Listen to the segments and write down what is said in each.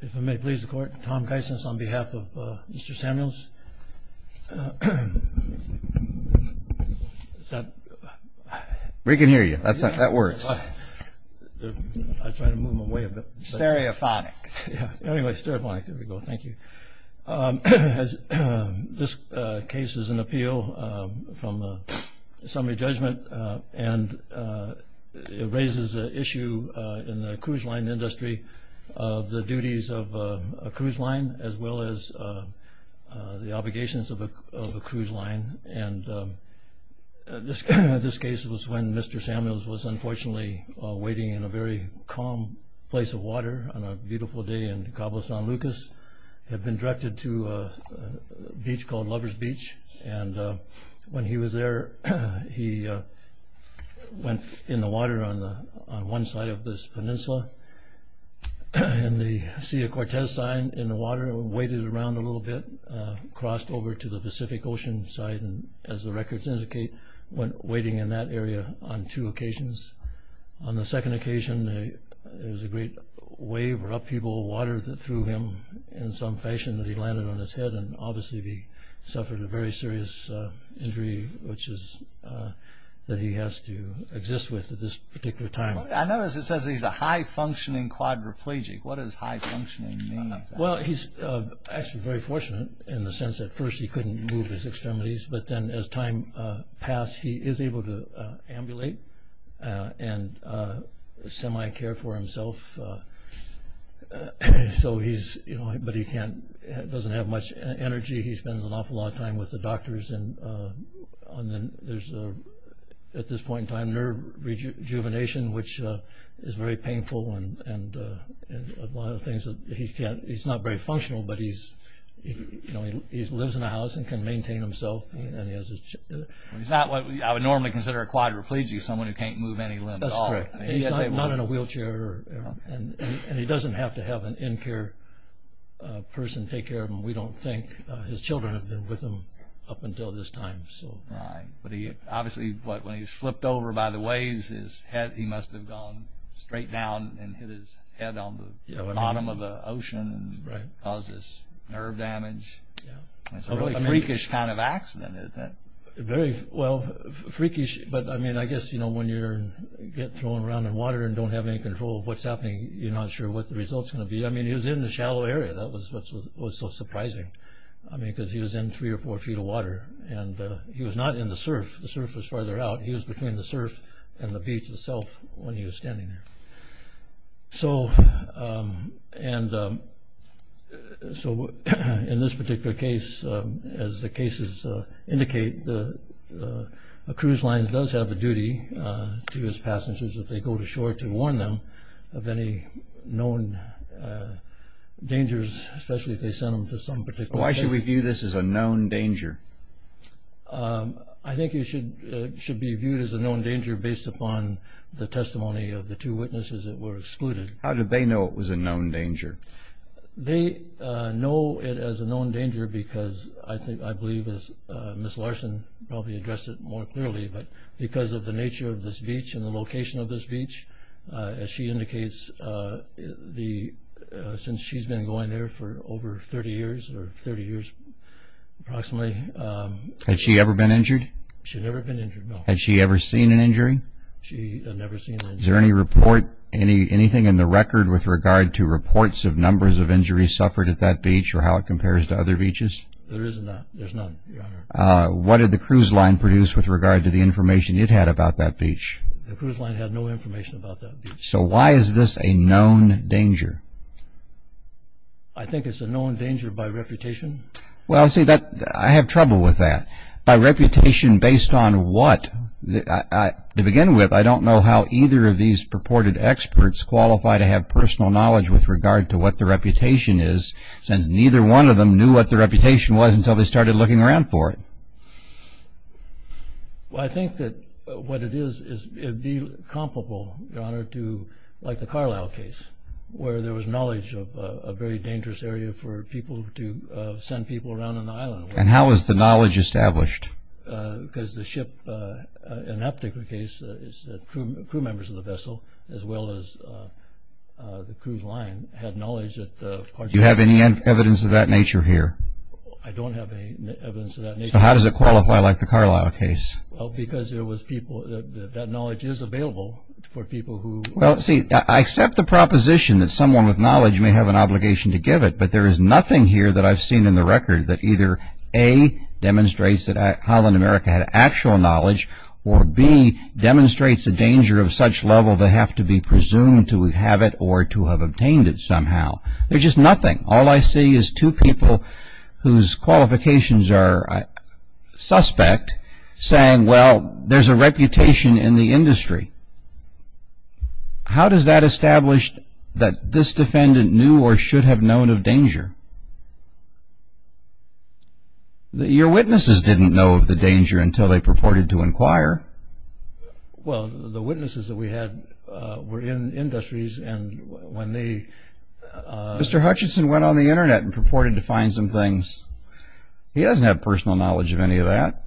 If I may please the court, Tom Geisens on behalf of Mr. Samuels. We can hear you, that's not, that works. Stereophonic. Yeah, anyway, stereophonic, there we go, thank you. This case is an appeal from a summary judgment and it raises an issue in the duties of a cruise line as well as the obligations of a cruise line and this case was when Mr. Samuels was unfortunately waiting in a very calm place of water on a beautiful day in Cabo San Lucas, had been directed to a beach called Lover's Beach and when he was there he went in the water on one side of this peninsula and the Sea of Cortez sign in the water waited around a little bit, crossed over to the Pacific Ocean side and as the records indicate went waiting in that area on two occasions. On the second occasion there was a great wave or upheaval of water that threw him in some fashion that he landed on his head and obviously he suffered a very serious injury which is that he has to exist with at this particular time. I notice it says he's a high-functioning quadriplegic. What does high-functioning mean? Well he's actually very fortunate in the sense that first he couldn't move his extremities but then as time passed he is able to ambulate and semi care for himself so he's, you know, but he can't, doesn't have much energy. He spends an awful lot of time with the doctors and then there's a, at this point in time, nerve rejuvenation which is very painful and one of the things that he can't, he's not very functional but he's, you know, he lives in a house and can maintain himself and he has a He's not what I would normally consider a quadriplegic, someone who can't move any limbs. That's correct. He's not in a wheelchair and he doesn't have to have an in-care person take care of him. We don't think. His children have been with him up until this time. Right, but obviously when he was flipped over by the waves, his head, he must have gone straight down and hit his head on the bottom of the ocean and caused this nerve damage. It's a really freakish kind of accident, isn't it? Very, well, freakish but I mean I guess, you know, when you get thrown around in water and don't have any control of what's happening, you're not sure what the result's going to be. I mean he was in the water and that's what was so surprising. I mean because he was in three or four feet of water and he was not in the surf. The surf was farther out. He was between the surf and the beach itself when he was standing there. So, and so in this particular case, as the cases indicate, the cruise line does have a duty to his passengers if they go to shore to warn them of any known dangers, especially if they send them to some particular place. Why should we view this as a known danger? I think it should be viewed as a known danger based upon the testimony of the two witnesses that were excluded. How did they know it was a known danger? They know it as a known danger because, I think, I believe as Miss Larson probably addressed it more clearly, but because of the nature of this beach and the location of this beach, as she indicates, since she's been going there for over 30 years or 30 years approximately. Had she ever been injured? She had never been injured, no. Had she ever seen an injury? She had never seen an injury. Is there any report, anything in the record with regard to reports of numbers of injuries suffered at that beach or how it compares to other beaches? There is none, there's none, Your Honor. What did the cruise line produce with regard to the information it had about that beach? The cruise line had no information about that beach. So why is this a known danger? I think it's a known danger by reputation. Well, see, I have trouble with that. By reputation based on what? To begin with, I don't know how either of these purported experts qualify to have personal knowledge with regard to what the reputation is since neither one of them knew what the reputation was until they started looking around for it. Well, I think that what it is, it would be comparable, Your Honor, to like the Carlisle case where there was knowledge of a very dangerous area for people to send people around on the island. And how was the knowledge established? Because the ship, in that particular case, the crew members of the vessel as well as the cruise line had knowledge that Do you have any evidence of that nature here? I don't have any evidence of that nature. So how does it qualify like the Carlisle case? Well, because that knowledge is available for people who Well, see, I accept the proposition that someone with knowledge may have an obligation to give it, but there is nothing here that I've seen in the record that either A, demonstrates that Highland America had actual knowledge, or B, demonstrates a danger of such level that they have to be presumed to have it or to have obtained it somehow. There's just nothing. All I see is two people whose qualifications are suspect saying, Well, there's a reputation in the industry. How does that establish that this defendant knew or should have known of danger? Your witnesses didn't know of the danger until they purported to inquire. Well, the witnesses that we had were in industries, and when they Mr. Hutchinson went on the Internet and purported to find some things. He doesn't have personal knowledge of any of that.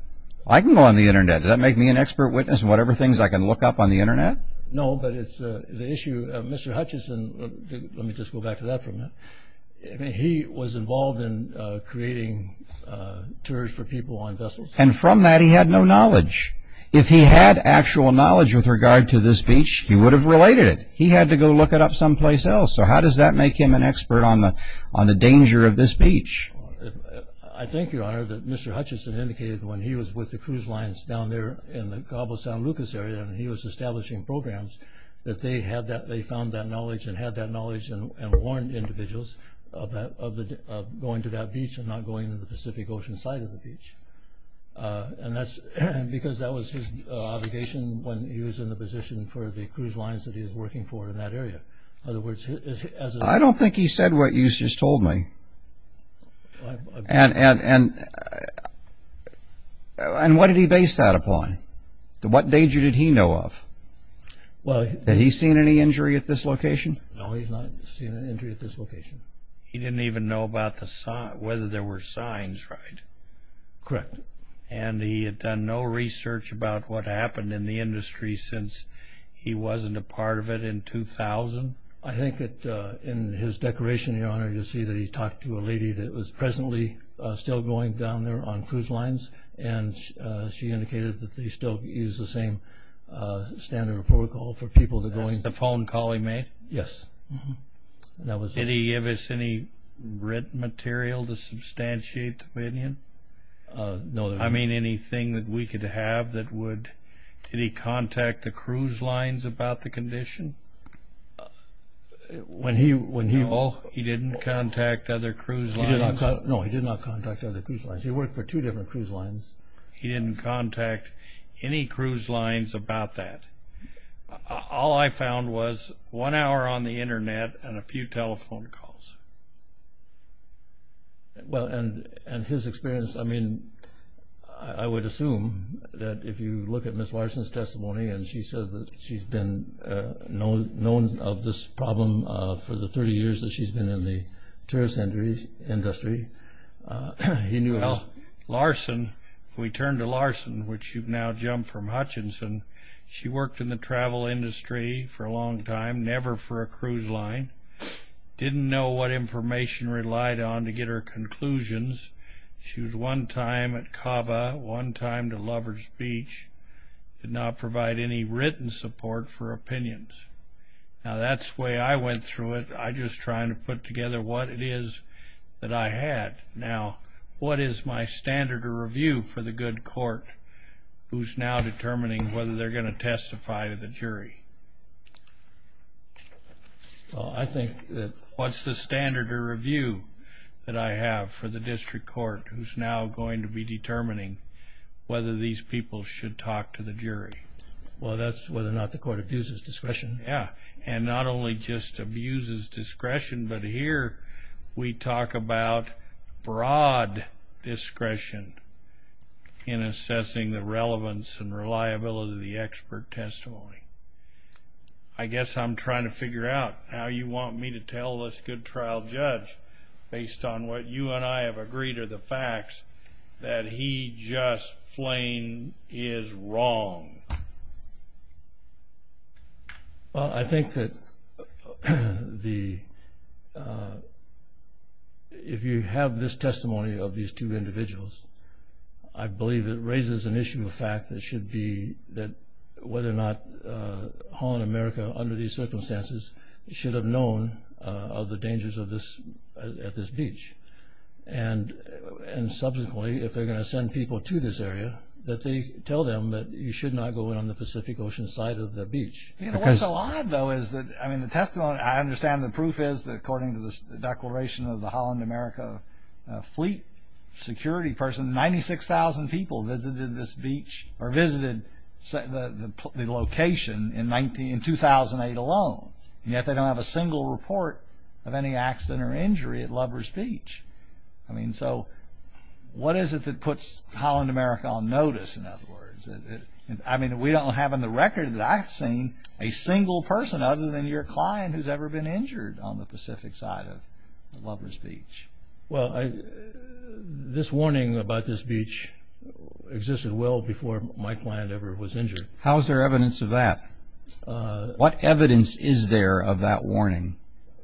I can go on the Internet. Does that make me an expert witness in whatever things I can look up on the Internet? No, but it's the issue of Mr. Hutchinson. Let me just go back to that for a minute. He was involved in creating tours for people on vessels. And from that, he had no knowledge. If he had actual knowledge with regard to this beach, he would have related it. He had to go look it up someplace else. So how does that make him an expert on the danger of this beach? I think, Your Honor, that Mr. Hutchinson indicated when he was with the cruise lines down there in the Cabo San Lucas area and he was establishing programs, that they found that knowledge and had that knowledge and warned individuals of going to that beach and not going to the Pacific Ocean side of the beach. And that's because that was his obligation when he was in the position for the cruise lines that he was working for in that area. I don't think he said what you just told me. And what did he base that upon? What danger did he know of? Had he seen any injury at this location? No, he's not seen any injury at this location. He didn't even know about whether there were signs, right? Correct. And he had done no research about what happened in the industry since he wasn't a part of it in 2000? I think that in his declaration, Your Honor, you'll see that he talked to a lady that was presently still going down there on cruise lines, and she indicated that they still use the same standard of protocol for people that are going. That's the phone call he made? Yes. Did he give us any written material to substantiate the opinion? No. I mean anything that we could have that would... Did he contact the cruise lines about the condition? No, he didn't contact other cruise lines. No, he did not contact other cruise lines. He worked for two different cruise lines. He didn't contact any cruise lines about that. All I found was one hour on the Internet and a few telephone calls. Well, and his experience, I mean, I would assume that if you look at Ms. Larson's testimony and she said that she's been known of this problem for the 30 years that she's been in the tourist industry, he knew... Well, Larson, if we turn to Larson, which you've now jumped from Hutchinson, she worked in the travel industry for a long time, never for a cruise line, didn't know what information relied on to get her conclusions. She was one time at Caba, one time to Lover's Beach, did not provide any written support for opinions. Now, that's the way I went through it. I'm just trying to put together what it is that I had. Now, what is my standard of review for the good court who's now determining whether they're going to testify to the jury? Well, I think that... What's the standard of review that I have for the district court who's now going to be determining whether these people should talk to the jury? Well, that's whether or not the court abuses discretion. Yeah, and not only just abuses discretion, but here we talk about broad discretion in assessing the relevance and reliability of the expert testimony. I guess I'm trying to figure out how you want me to tell this good trial judge based on what you and I have agreed are the facts, that he just plain is wrong. Well, I think that the... If you have this testimony of these two individuals, I believe it raises an issue of fact that should be that whether or not Holland America, under these circumstances, should have known of the dangers at this beach. And subsequently, if they're going to send people to this area, that they tell them that you should not go in on the Pacific Ocean side of the beach. What's odd, though, is that the testimony... I understand the proof is that according to the declaration of the Holland America fleet security person, 96,000 people visited this beach or visited the location in 2008 alone, and yet they don't have a single report of any accident or injury at Lubbers Beach. I mean, so what is it that puts Holland America on notice, in other words? I mean, we don't have in the record that I've seen a single person other than your client who's ever been injured on the Pacific side of Lubbers Beach. Well, this warning about this beach existed well before my client ever was injured. How is there evidence of that? What evidence is there of that warning?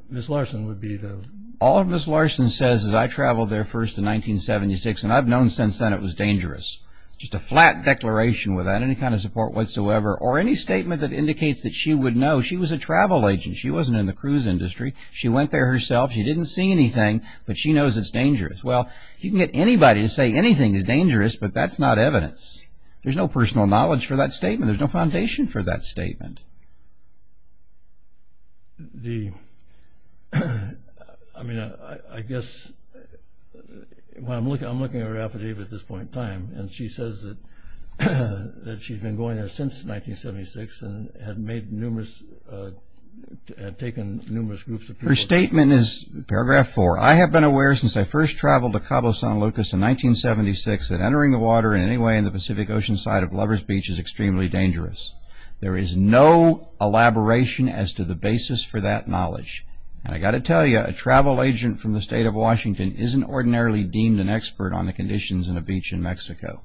Ms. Larson would be the... All Ms. Larson says is I traveled there first in 1976, and I've known since then it was dangerous. Just a flat declaration without any kind of support whatsoever, or any statement that indicates that she would know. She was a travel agent. She wasn't in the cruise industry. She went there herself. She didn't see anything, but she knows it's dangerous. Well, you can get anybody to say anything is dangerous, but that's not evidence. There's no personal knowledge for that statement. There's no foundation for that statement. The... I mean, I guess when I'm looking at her affidavit at this point in time, and she says that she's been going there since 1976 and had made numerous... had taken numerous groups of people... Her statement is paragraph 4. I have been aware since I first traveled to Cabo San Lucas in 1976 that entering the water in any way in the Pacific Ocean side of Lubbers Beach is extremely dangerous. There is no elaboration as to the basis for that knowledge. And I've got to tell you, a travel agent from the state of Washington isn't ordinarily deemed an expert on the conditions in a beach in Mexico.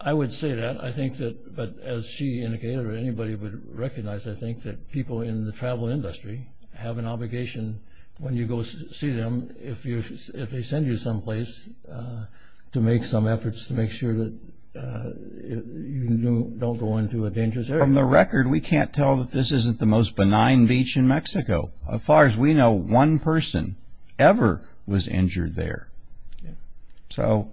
I would say that. I think that, as she indicated or anybody would recognize, I think that people in the travel industry have an obligation when you go see them, if they send you someplace to make some efforts to make sure that you don't go into a dangerous area. From the record, we can't tell that this isn't the most benign beach in Mexico. As far as we know, one person ever was injured there. So...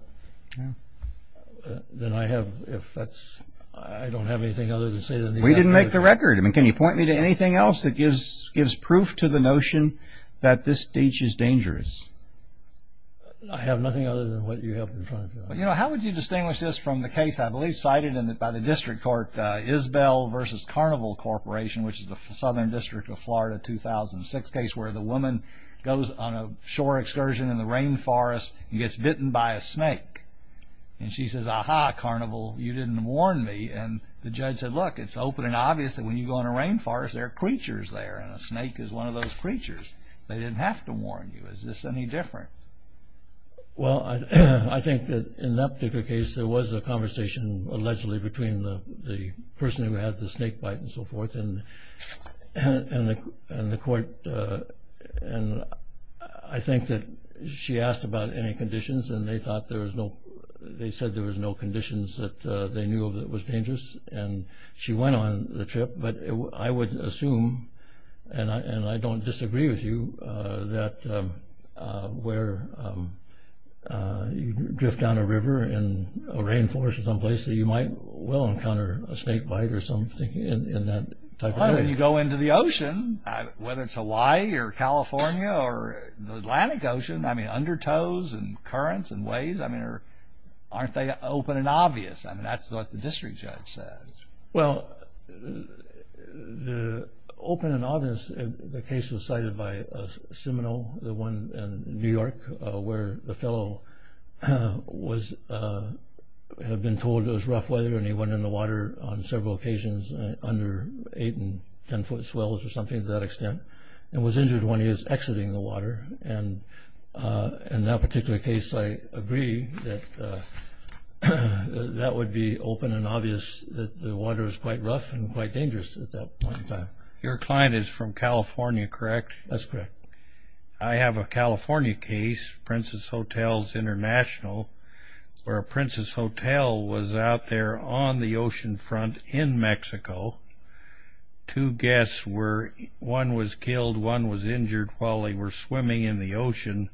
Then I have... if that's... I don't have anything other to say than... We didn't make the record. I mean, can you point me to anything else that gives proof to the notion that this beach is dangerous? I have nothing other than what you have in front of you. Well, you know, how would you distinguish this from the case, I believe, cited by the district court Isbell v. Carnival Corporation, which is the Southern District of Florida 2006 case, where the woman goes on a shore excursion in the rainforest and gets bitten by a snake. And she says, Aha, Carnival, you didn't warn me. And the judge said, Look, it's open and obvious that when you go in a rainforest, there are creatures there, and a snake is one of those creatures. They didn't have to warn you. Is this any different? Well, I think that in that particular case, there was a conversation allegedly between the person who had the snake bite and so forth, and the court. And I think that she asked about any conditions, and they said there was no conditions that they knew of that was dangerous. And she went on the trip. But I would assume, and I don't disagree with you, that where you drift down a river in a rainforest someplace, that you might well encounter a snake bite or something in that type of area. Well, I mean, you go into the ocean, whether it's Hawaii or California or the Atlantic Ocean, I mean, undertoes and currents and waves, I mean, aren't they open and obvious? I mean, that's what the district judge said. Well, the open and obvious, the case was cited by Seminole, the one in New York, where the fellow had been told it was rough weather, and he went in the water on several occasions under 8- and 10-foot swells or something to that extent and was injured when he was exiting the water. And in that particular case, I agree that that would be open and obvious, that the water is quite rough and quite dangerous at that point in time. Your client is from California, correct? That's correct. I have a California case, Princess Hotels International, where a princess hotel was out there on the oceanfront in Mexico. Two guests were, one was killed, one was injured while they were swimming in the ocean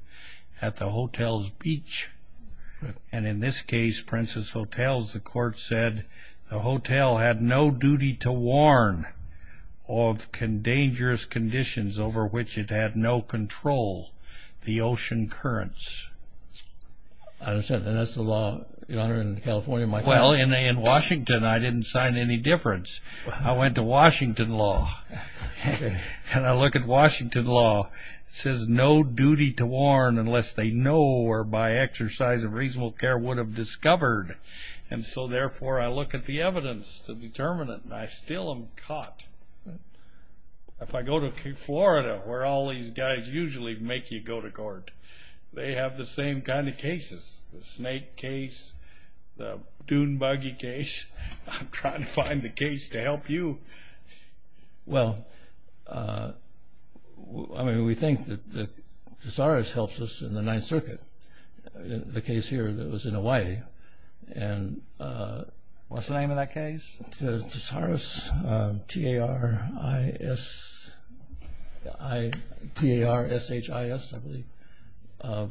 at the hotel's beach. And in this case, Princess Hotels, the court said the hotel had no duty to warn of dangerous conditions over which it had no control, the ocean currents. I understand, and that's the law, Your Honor, in California? Well, in Washington, I didn't sign any difference. I went to Washington law, and I look at Washington law. It says no duty to warn unless they know or by exercise of reasonable care would have discovered. And so, therefore, I look at the evidence to determine it, and I still am caught. If I go to Florida, where all these guys usually make you go to court, they have the same kind of cases, the snake case, the dune buggy case. I'm trying to find the case to help you. Well, I mean, we think that Cesaris helps us in the Ninth Circuit. The case here that was in Hawaii. What's the name of that case? Cesaris, T-A-R-I-S, T-A-R-S-H-I-S, I believe,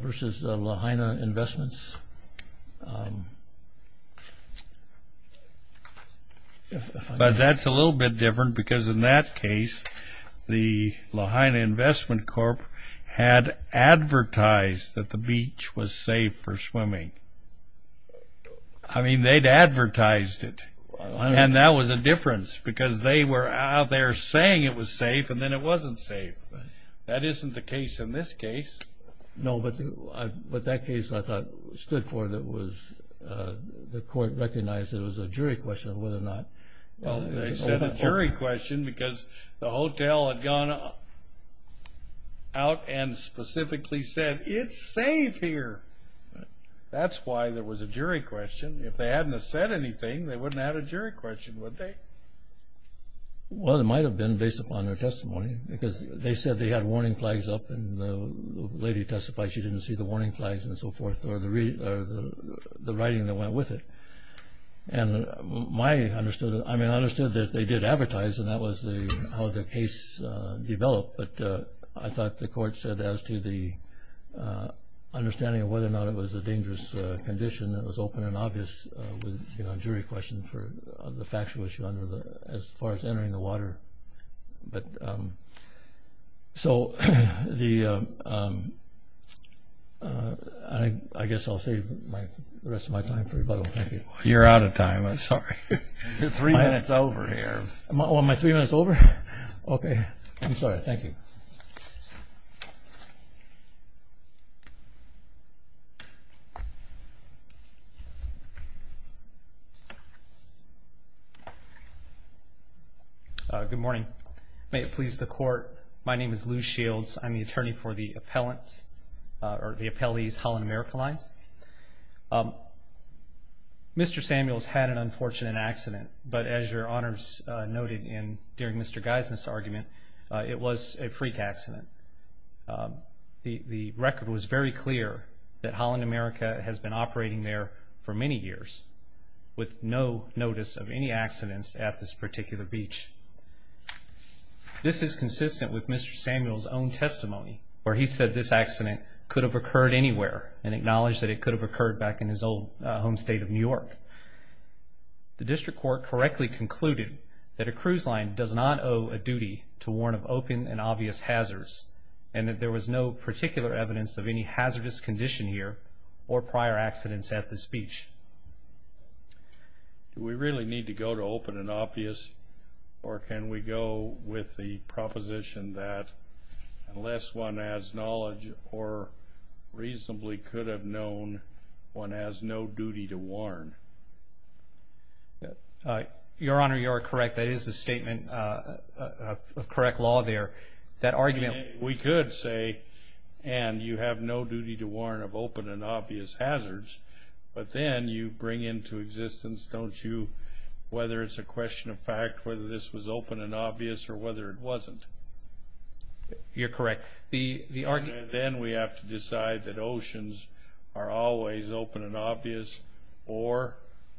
versus Lahaina Investments. But that's a little bit different because in that case, the Lahaina Investment Corp. had advertised that the beach was safe for swimming. I mean, they'd advertised it, and that was a difference because they were out there saying it was safe, and then it wasn't safe. That isn't the case in this case. No, but that case, I thought, stood for that the court recognized it was a jury question of whether or not. Well, they said a jury question because the hotel had gone out and specifically said, It's safe here. That's why there was a jury question. If they hadn't have said anything, they wouldn't have had a jury question, would they? Well, it might have been based upon their testimony because they said they had warning flags up, and the lady testified she didn't see the warning flags and so forth, or the writing that went with it. I understood that they did advertise, and that was how the case developed, but I thought the court said as to the understanding of whether or not it was a dangerous condition, it was open and obvious with a jury question for the factual issue as far as entering the water. I guess I'll save the rest of my time for rebuttal. Thank you. You're out of time. I'm sorry. You're three minutes over here. Am I three minutes over? Okay. I'm sorry. Thank you. Good morning. May it please the court, my name is Lou Shields. I'm the attorney for the appellees, Holland America Lines. Mr. Samuels had an unfortunate accident, but as your honors noted during Mr. Geisner's argument, it was a freak accident. The record was very clear that Holland America has been operating there for many years with no notice of any accidents at this particular beach. This is consistent with Mr. Samuels' own testimony where he said this accident could have occurred anywhere and acknowledged that it could have occurred back in his old home state of New York. The district court correctly concluded that a cruise line does not owe a duty to warn of open and obvious hazards and that there was no particular evidence of any hazardous condition here or prior accidents at this beach. Do we really need to go to open and obvious, or can we go with the proposition that unless one has knowledge or reasonably could have known, one has no duty to warn? Your honor, you are correct. That is the statement of correct law there. We could say, and you have no duty to warn of open and obvious hazards, but then you bring into existence, don't you, whether it's a question of fact whether this was open and obvious or whether it wasn't. You're correct. Then we have to decide that oceans are always open and obvious or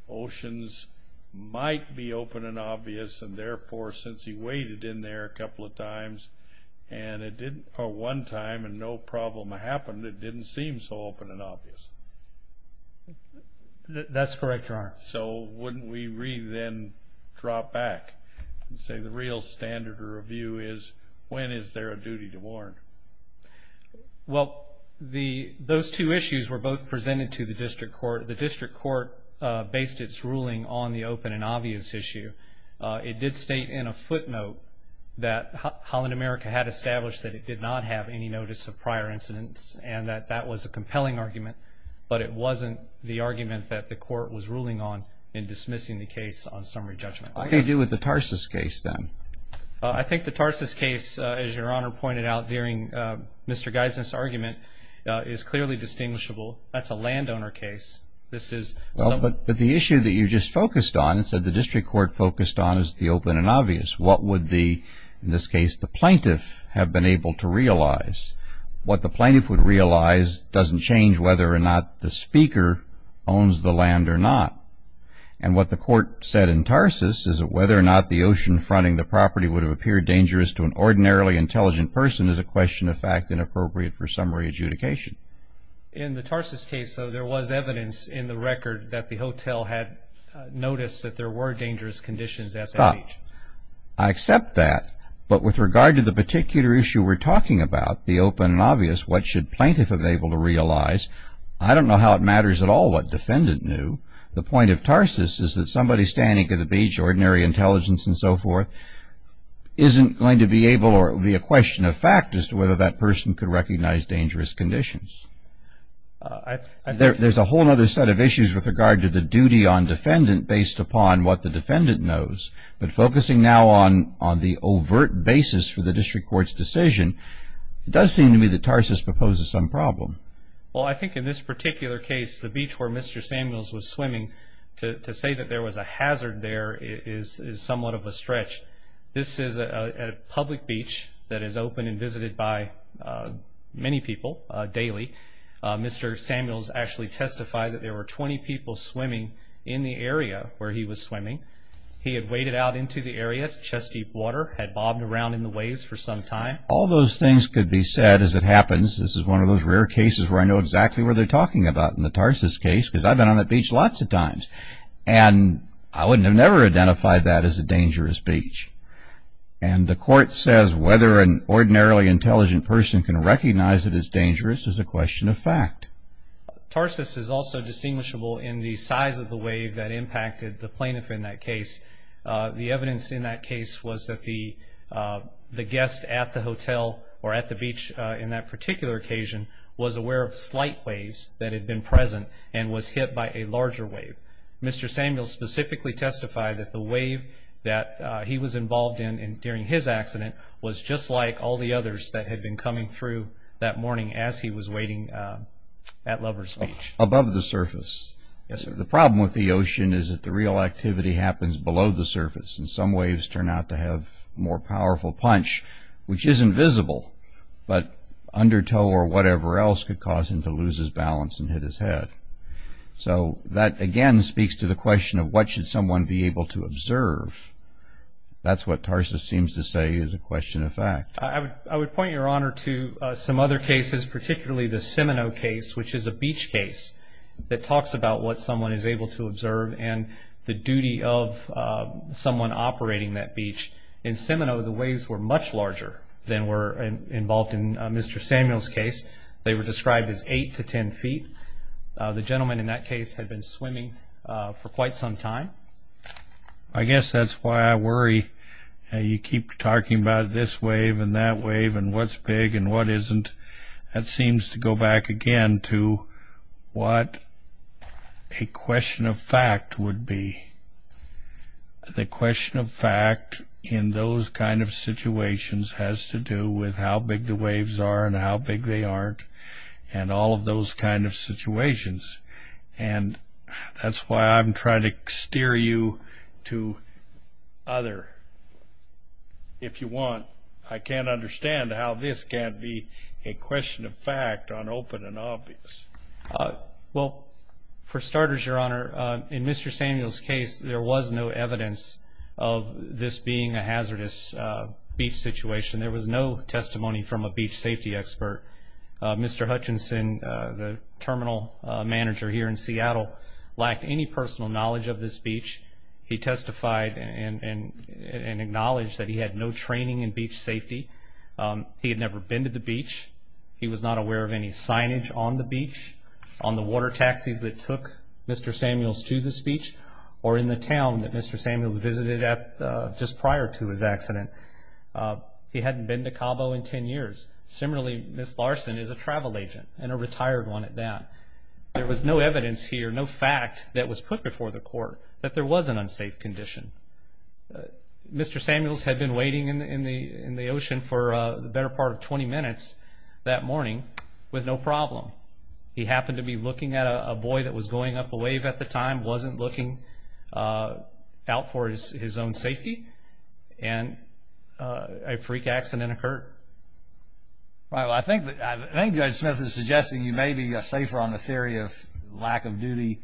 oceans might be open and obvious, and therefore since he waded in there a couple of times, and it didn't for one time and no problem happened, it didn't seem so open and obvious. That's correct, your honor. So wouldn't we then drop back and say the real standard of review is when is there a duty to warn? Well, those two issues were both presented to the district court. The district court based its ruling on the open and obvious issue. It did state in a footnote that Holland America had established that it did not have any notice of prior incidents and that that was a compelling argument, but it wasn't the argument that the court was ruling on in dismissing the case on summary judgment. What do you do with the Tarsus case then? I think the Tarsus case, as your honor pointed out during Mr. Geisner's argument, is clearly distinguishable. That's a landowner case. But the issue that you just focused on, you said the district court focused on is the open and obvious. What would, in this case, the plaintiff have been able to realize? What the plaintiff would realize doesn't change whether or not the speaker owns the land or not. And what the court said in Tarsus is that whether or not the ocean fronting the property would have appeared dangerous to an ordinarily intelligent person is a question of fact and appropriate for summary adjudication. In the Tarsus case, though, there was evidence in the record that the hotel had noticed that there were dangerous conditions at that beach. Stop. I accept that, but with regard to the particular issue we're talking about, the open and obvious, what should plaintiff have been able to realize? I don't know how it matters at all what defendant knew. The point of Tarsus is that somebody standing at the beach, ordinary intelligence and so forth, isn't going to be able or it would be a question of fact as to whether that person could recognize dangerous conditions. There's a whole other set of issues with regard to the duty on defendant based upon what the defendant knows. But focusing now on the overt basis for the district court's decision, it does seem to me that Tarsus proposes some problem. Well, I think in this particular case, the beach where Mr. Samuels was swimming, to say that there was a hazard there is somewhat of a stretch. This is a public beach that is open and visited by many people daily. Mr. Samuels actually testified that there were 20 people swimming in the area where he was swimming. He had waded out into the area to chest deep water, had bobbed around in the waves for some time. All those things could be said as it happens. This is one of those rare cases where I know exactly what they're talking about in the Tarsus case because I've been on that beach lots of times. And I would have never identified that as a dangerous beach. And the court says whether an ordinarily intelligent person can recognize that it's dangerous is a question of fact. Tarsus is also distinguishable in the size of the wave that impacted the plaintiff in that case. The evidence in that case was that the guest at the hotel or at the beach in that particular occasion was aware of slight waves that had been present and was hit by a larger wave. Mr. Samuels specifically testified that the wave that he was involved in during his accident was just like all the others that had been coming through that morning as he was wading at Lover's Beach. Above the surface? Yes, sir. The problem with the ocean is that the real activity happens below the surface, and some waves turn out to have more powerful punch, which isn't visible, but undertow or whatever else could cause him to lose his balance and hit his head. So that, again, speaks to the question of what should someone be able to observe. That's what Tarsus seems to say is a question of fact. I would point your Honor to some other cases, particularly the Seminoe case, which is a beach case that talks about what someone is able to observe and the duty of someone operating that beach. In Seminoe, the waves were much larger than were involved in Mr. Samuels' case. They were described as 8 to 10 feet. The gentleman in that case had been swimming for quite some time. I guess that's why I worry. You keep talking about this wave and that wave and what's big and what isn't. That seems to go back again to what a question of fact would be. The question of fact in those kind of situations has to do with how big the waves are and how big they aren't and all of those kind of situations. And that's why I'm trying to steer you to other. If you want, I can't understand how this can't be a question of fact on open and obvious. Well, for starters, Your Honor, in Mr. Samuels' case, there was no evidence of this being a hazardous beach situation. There was no testimony from a beach safety expert. Mr. Hutchinson, the terminal manager here in Seattle, lacked any personal knowledge of this beach. He testified and acknowledged that he had no training in beach safety. He had never been to the beach. He was not aware of any signage on the beach, on the water taxis that took Mr. Samuels to this beach, or in the town that Mr. Samuels visited just prior to his accident. He hadn't been to Cabo in 10 years. Similarly, Ms. Larson is a travel agent and a retired one at that. There was no evidence here, no fact that was put before the court that there was an unsafe condition. Mr. Samuels had been waiting in the ocean for the better part of 20 minutes that morning with no problem. He happened to be looking at a boy that was going up a wave at the time, wasn't looking out for his own safety, and a freak accident occurred. Well, I think Judge Smith is suggesting you may be safer on the theory of lack of duty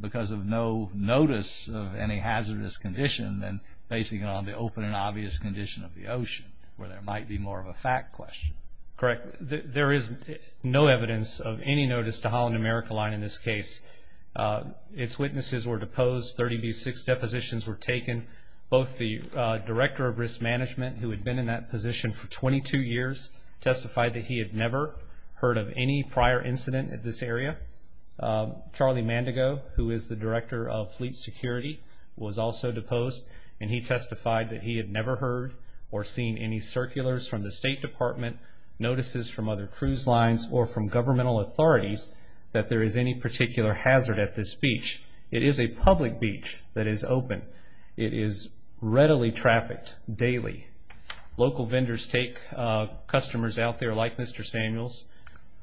because of no notice of any hazardous condition than basing it on the open and obvious condition of the ocean, where there might be more of a fact question. Correct. There is no evidence of any notice to Holland America Line in this case. Its witnesses were deposed. Thirty-six depositions were taken. Both the Director of Risk Management, who had been in that position for 22 years, testified that he had never heard of any prior incident at this area. Charlie Mandego, who is the Director of Fleet Security, was also deposed, and he testified that he had never heard or seen any circulars from the State Department, notices from other cruise lines, or from governmental authorities that there is any particular hazard at this beach. It is a public beach that is open. It is readily trafficked daily. Local vendors take customers out there, like Mr. Samuels,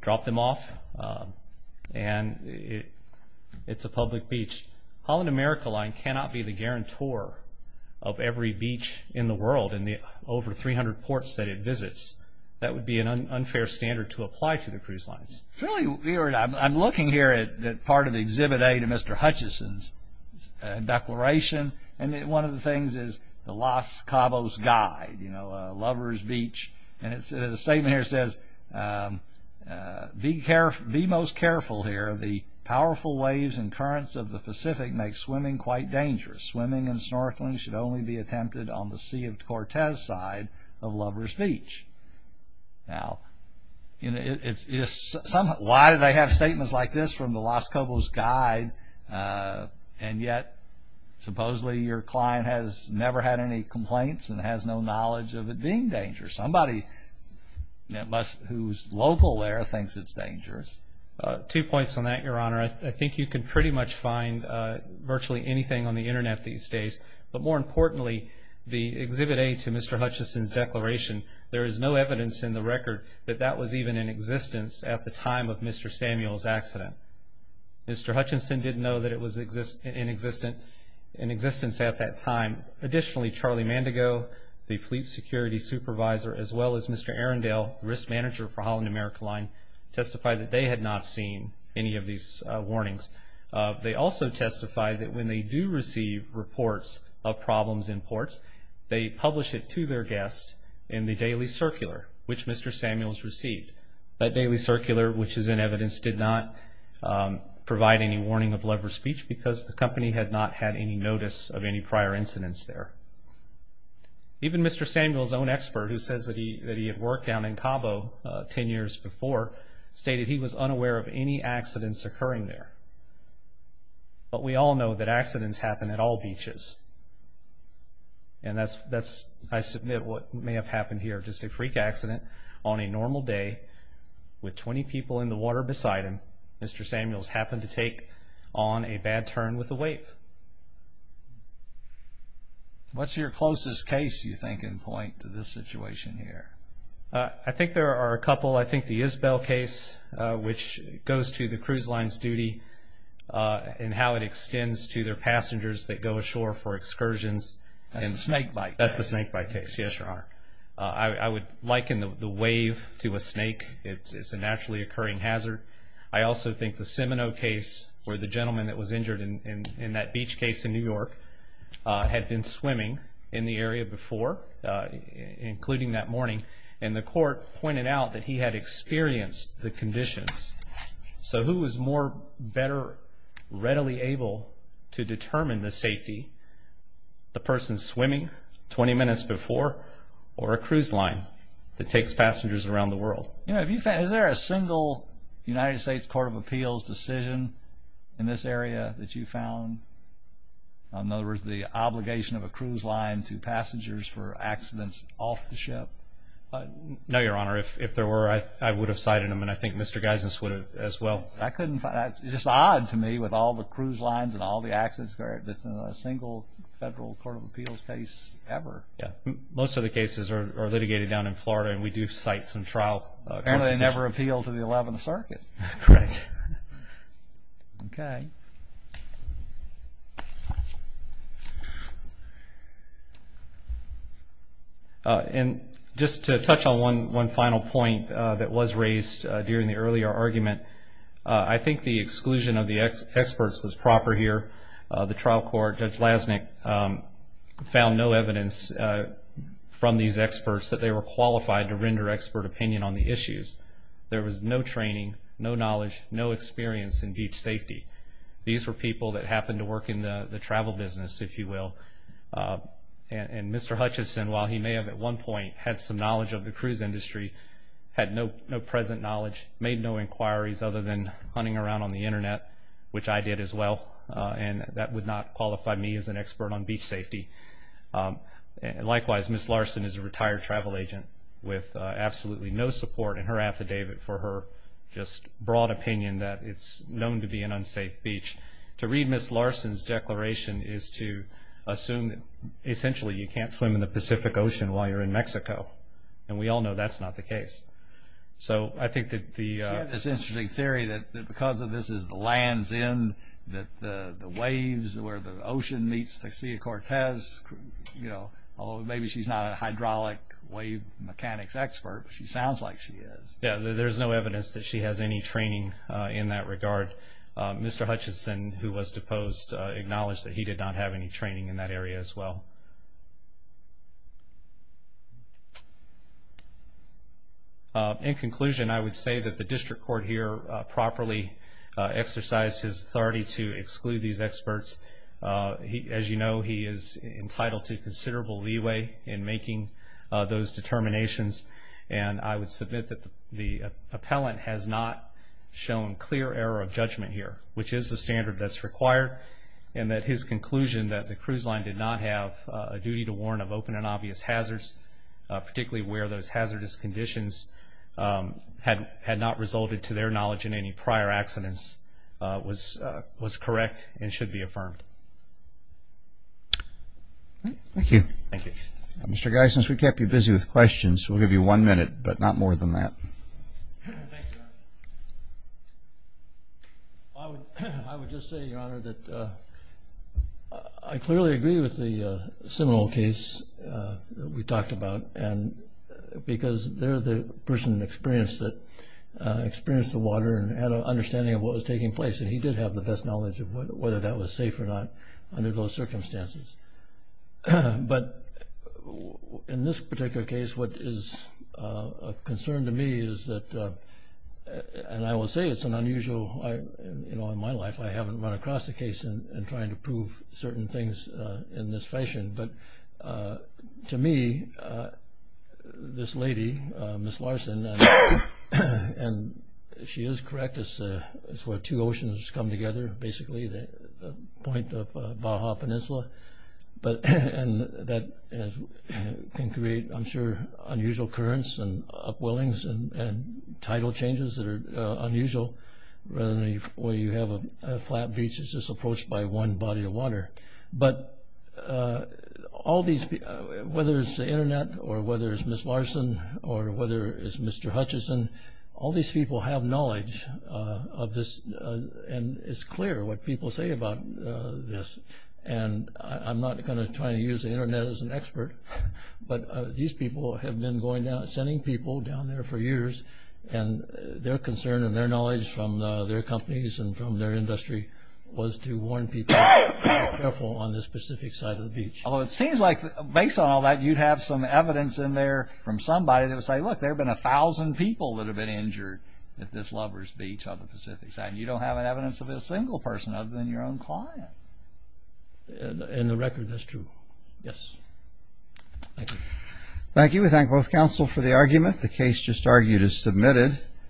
drop them off, and it's a public beach. Holland America Line cannot be the guarantor of every beach in the world in the over 300 ports that it visits. That would be an unfair standard to apply to the cruise lines. I'm looking here at part of Exhibit A to Mr. Hutchison's declaration, and one of the things is the Los Cabos Guide, Lover's Beach, and the statement here says, Be most careful here. The powerful waves and currents of the Pacific make swimming quite dangerous. Swimming and snorkeling should only be attempted on the Sea of Cortez side of Lover's Beach. Now, why do they have statements like this from the Los Cabos Guide, and yet supposedly your client has never had any complaints and has no knowledge of it being dangerous? Somebody who's local there thinks it's dangerous. Two points on that, Your Honor. I think you can pretty much find virtually anything on the Internet these days, but more importantly, the Exhibit A to Mr. Hutchison's declaration, there is no evidence in the record that that was even in existence at the time of Mr. Samuel's accident. Mr. Hutchison didn't know that it was in existence at that time. Additionally, Charlie Mandego, the Fleet Security Supervisor, as well as Mr. Arendelle, Risk Manager for Holland America Line, testified that they had not seen any of these warnings. They also testified that when they do receive reports of problems in ports, they publish it to their guests in the Daily Circular, which Mr. Samuel's received. That Daily Circular, which is in evidence, did not provide any warning of Lover's Beach because the company had not had any notice of any prior incidents there. Even Mr. Samuel's own expert, who says that he had worked down in Cabo ten years before, stated he was unaware of any accidents occurring there. But we all know that accidents happen at all beaches, and that's, I submit, what may have happened here. Just a freak accident on a normal day with 20 people in the water beside him, Mr. Samuel's happened to take on a bad turn with the wave. What's your closest case, you think, and point to this situation here? I think there are a couple. I think the Isbell case, which goes to the cruise line's duty and how it extends to their passengers that go ashore for excursions. That's the snake bite case. That's the snake bite case, yes, Your Honor. I would liken the wave to a snake. It's a naturally occurring hazard. I also think the Seminoe case where the gentleman that was injured in that beach case in New York had been swimming in the area before, including that morning, and the court pointed out that he had experienced the conditions. So who is more better readily able to determine the safety, the person swimming 20 minutes before or a cruise line that takes passengers around the world? Is there a single United States Court of Appeals decision in this area that you found? In other words, the obligation of a cruise line to passengers for accidents off the ship? No, Your Honor. If there were, I would have cited them, and I think Mr. Geisens would have as well. It's just odd to me with all the cruise lines and all the accidents that's in a single federal court of appeals case ever. Most of the cases are litigated down in Florida, and we do cite some trial court decisions. And they never appeal to the Eleventh Circuit. Right. Okay. And just to touch on one final point that was raised during the earlier argument, I think the exclusion of the experts was proper here. The trial court, Judge Lasnik, found no evidence from these experts that they were qualified to render expert opinion on the issues. There was no training, no knowledge, no experience in beach safety. These were people that happened to work in the travel business, if you will. And Mr. Hutchison, while he may have at one point had some knowledge of the cruise industry, had no present knowledge, made no inquiries other than hunting around on the Internet, which I did as well, and that would not qualify me as an expert on beach safety. Likewise, Ms. Larson is a retired travel agent with absolutely no support in her affidavit for her just broad opinion that it's known to be an unsafe beach. To read Ms. Larson's declaration is to assume that essentially you can't swim in the Pacific Ocean while you're in Mexico. And we all know that's not the case. So I think that the... She had this interesting theory that because this is the land's end, that the waves where the ocean meets the Sea of Cortez, you know, although maybe she's not a hydraulic wave mechanics expert, but she sounds like she is. Yeah, there's no evidence that she has any training in that regard. Mr. Hutchison, who was deposed, acknowledged that he did not have any training in that area as well. In conclusion, I would say that the district court here properly exercised his authority to exclude these experts. As you know, he is entitled to considerable leeway in making those determinations, and I would submit that the appellant has not shown clear error of judgment here, which is the standard that's required, and that his conclusion that the cruise line did not have a duty to warn of open and obvious hazards, particularly where those hazardous conditions had not resulted, to their knowledge, in any prior accidents was correct and should be affirmed. Thank you. Thank you. Mr. Guy, since we kept you busy with questions, we'll give you one minute, but not more than that. Thank you, Your Honor. I would just say, Your Honor, that I clearly agree with the Seminole case that we talked about because they're the person that experienced the water and had an understanding of what was taking place, and he did have the best knowledge of whether that was safe or not under those circumstances. But in this particular case, what is of concern to me is that, and I will say it's an unusual, you know, in my life I haven't run across a case in trying to prove certain things in this fashion, but to me, this lady, Ms. Larson, and she is correct, it's where two oceans come together, basically, the point of Baja Peninsula, and that can create, I'm sure, unusual currents and upwellings and tidal changes that are unusual, where you have a flat beach that's just approached by one body of water. But all these people, whether it's the Internet or whether it's Ms. Larson or whether it's Mr. Hutchison, all these people have knowledge of this, and it's clear what people say about this. And I'm not going to try to use the Internet as an expert, but these people have been sending people down there for years, and their concern and their knowledge from their companies and from their industry was to warn people to be careful on this specific side of the beach. Although it seems like, based on all that, you'd have some evidence in there from somebody that would say, look, there have been 1,000 people that have been injured at this lover's beach on the Pacific side, and you don't have evidence of a single person other than your own client. In the record, that's true. Yes. Thank you. Thank you. We thank both counsel for the argument. The case just argued is submitted.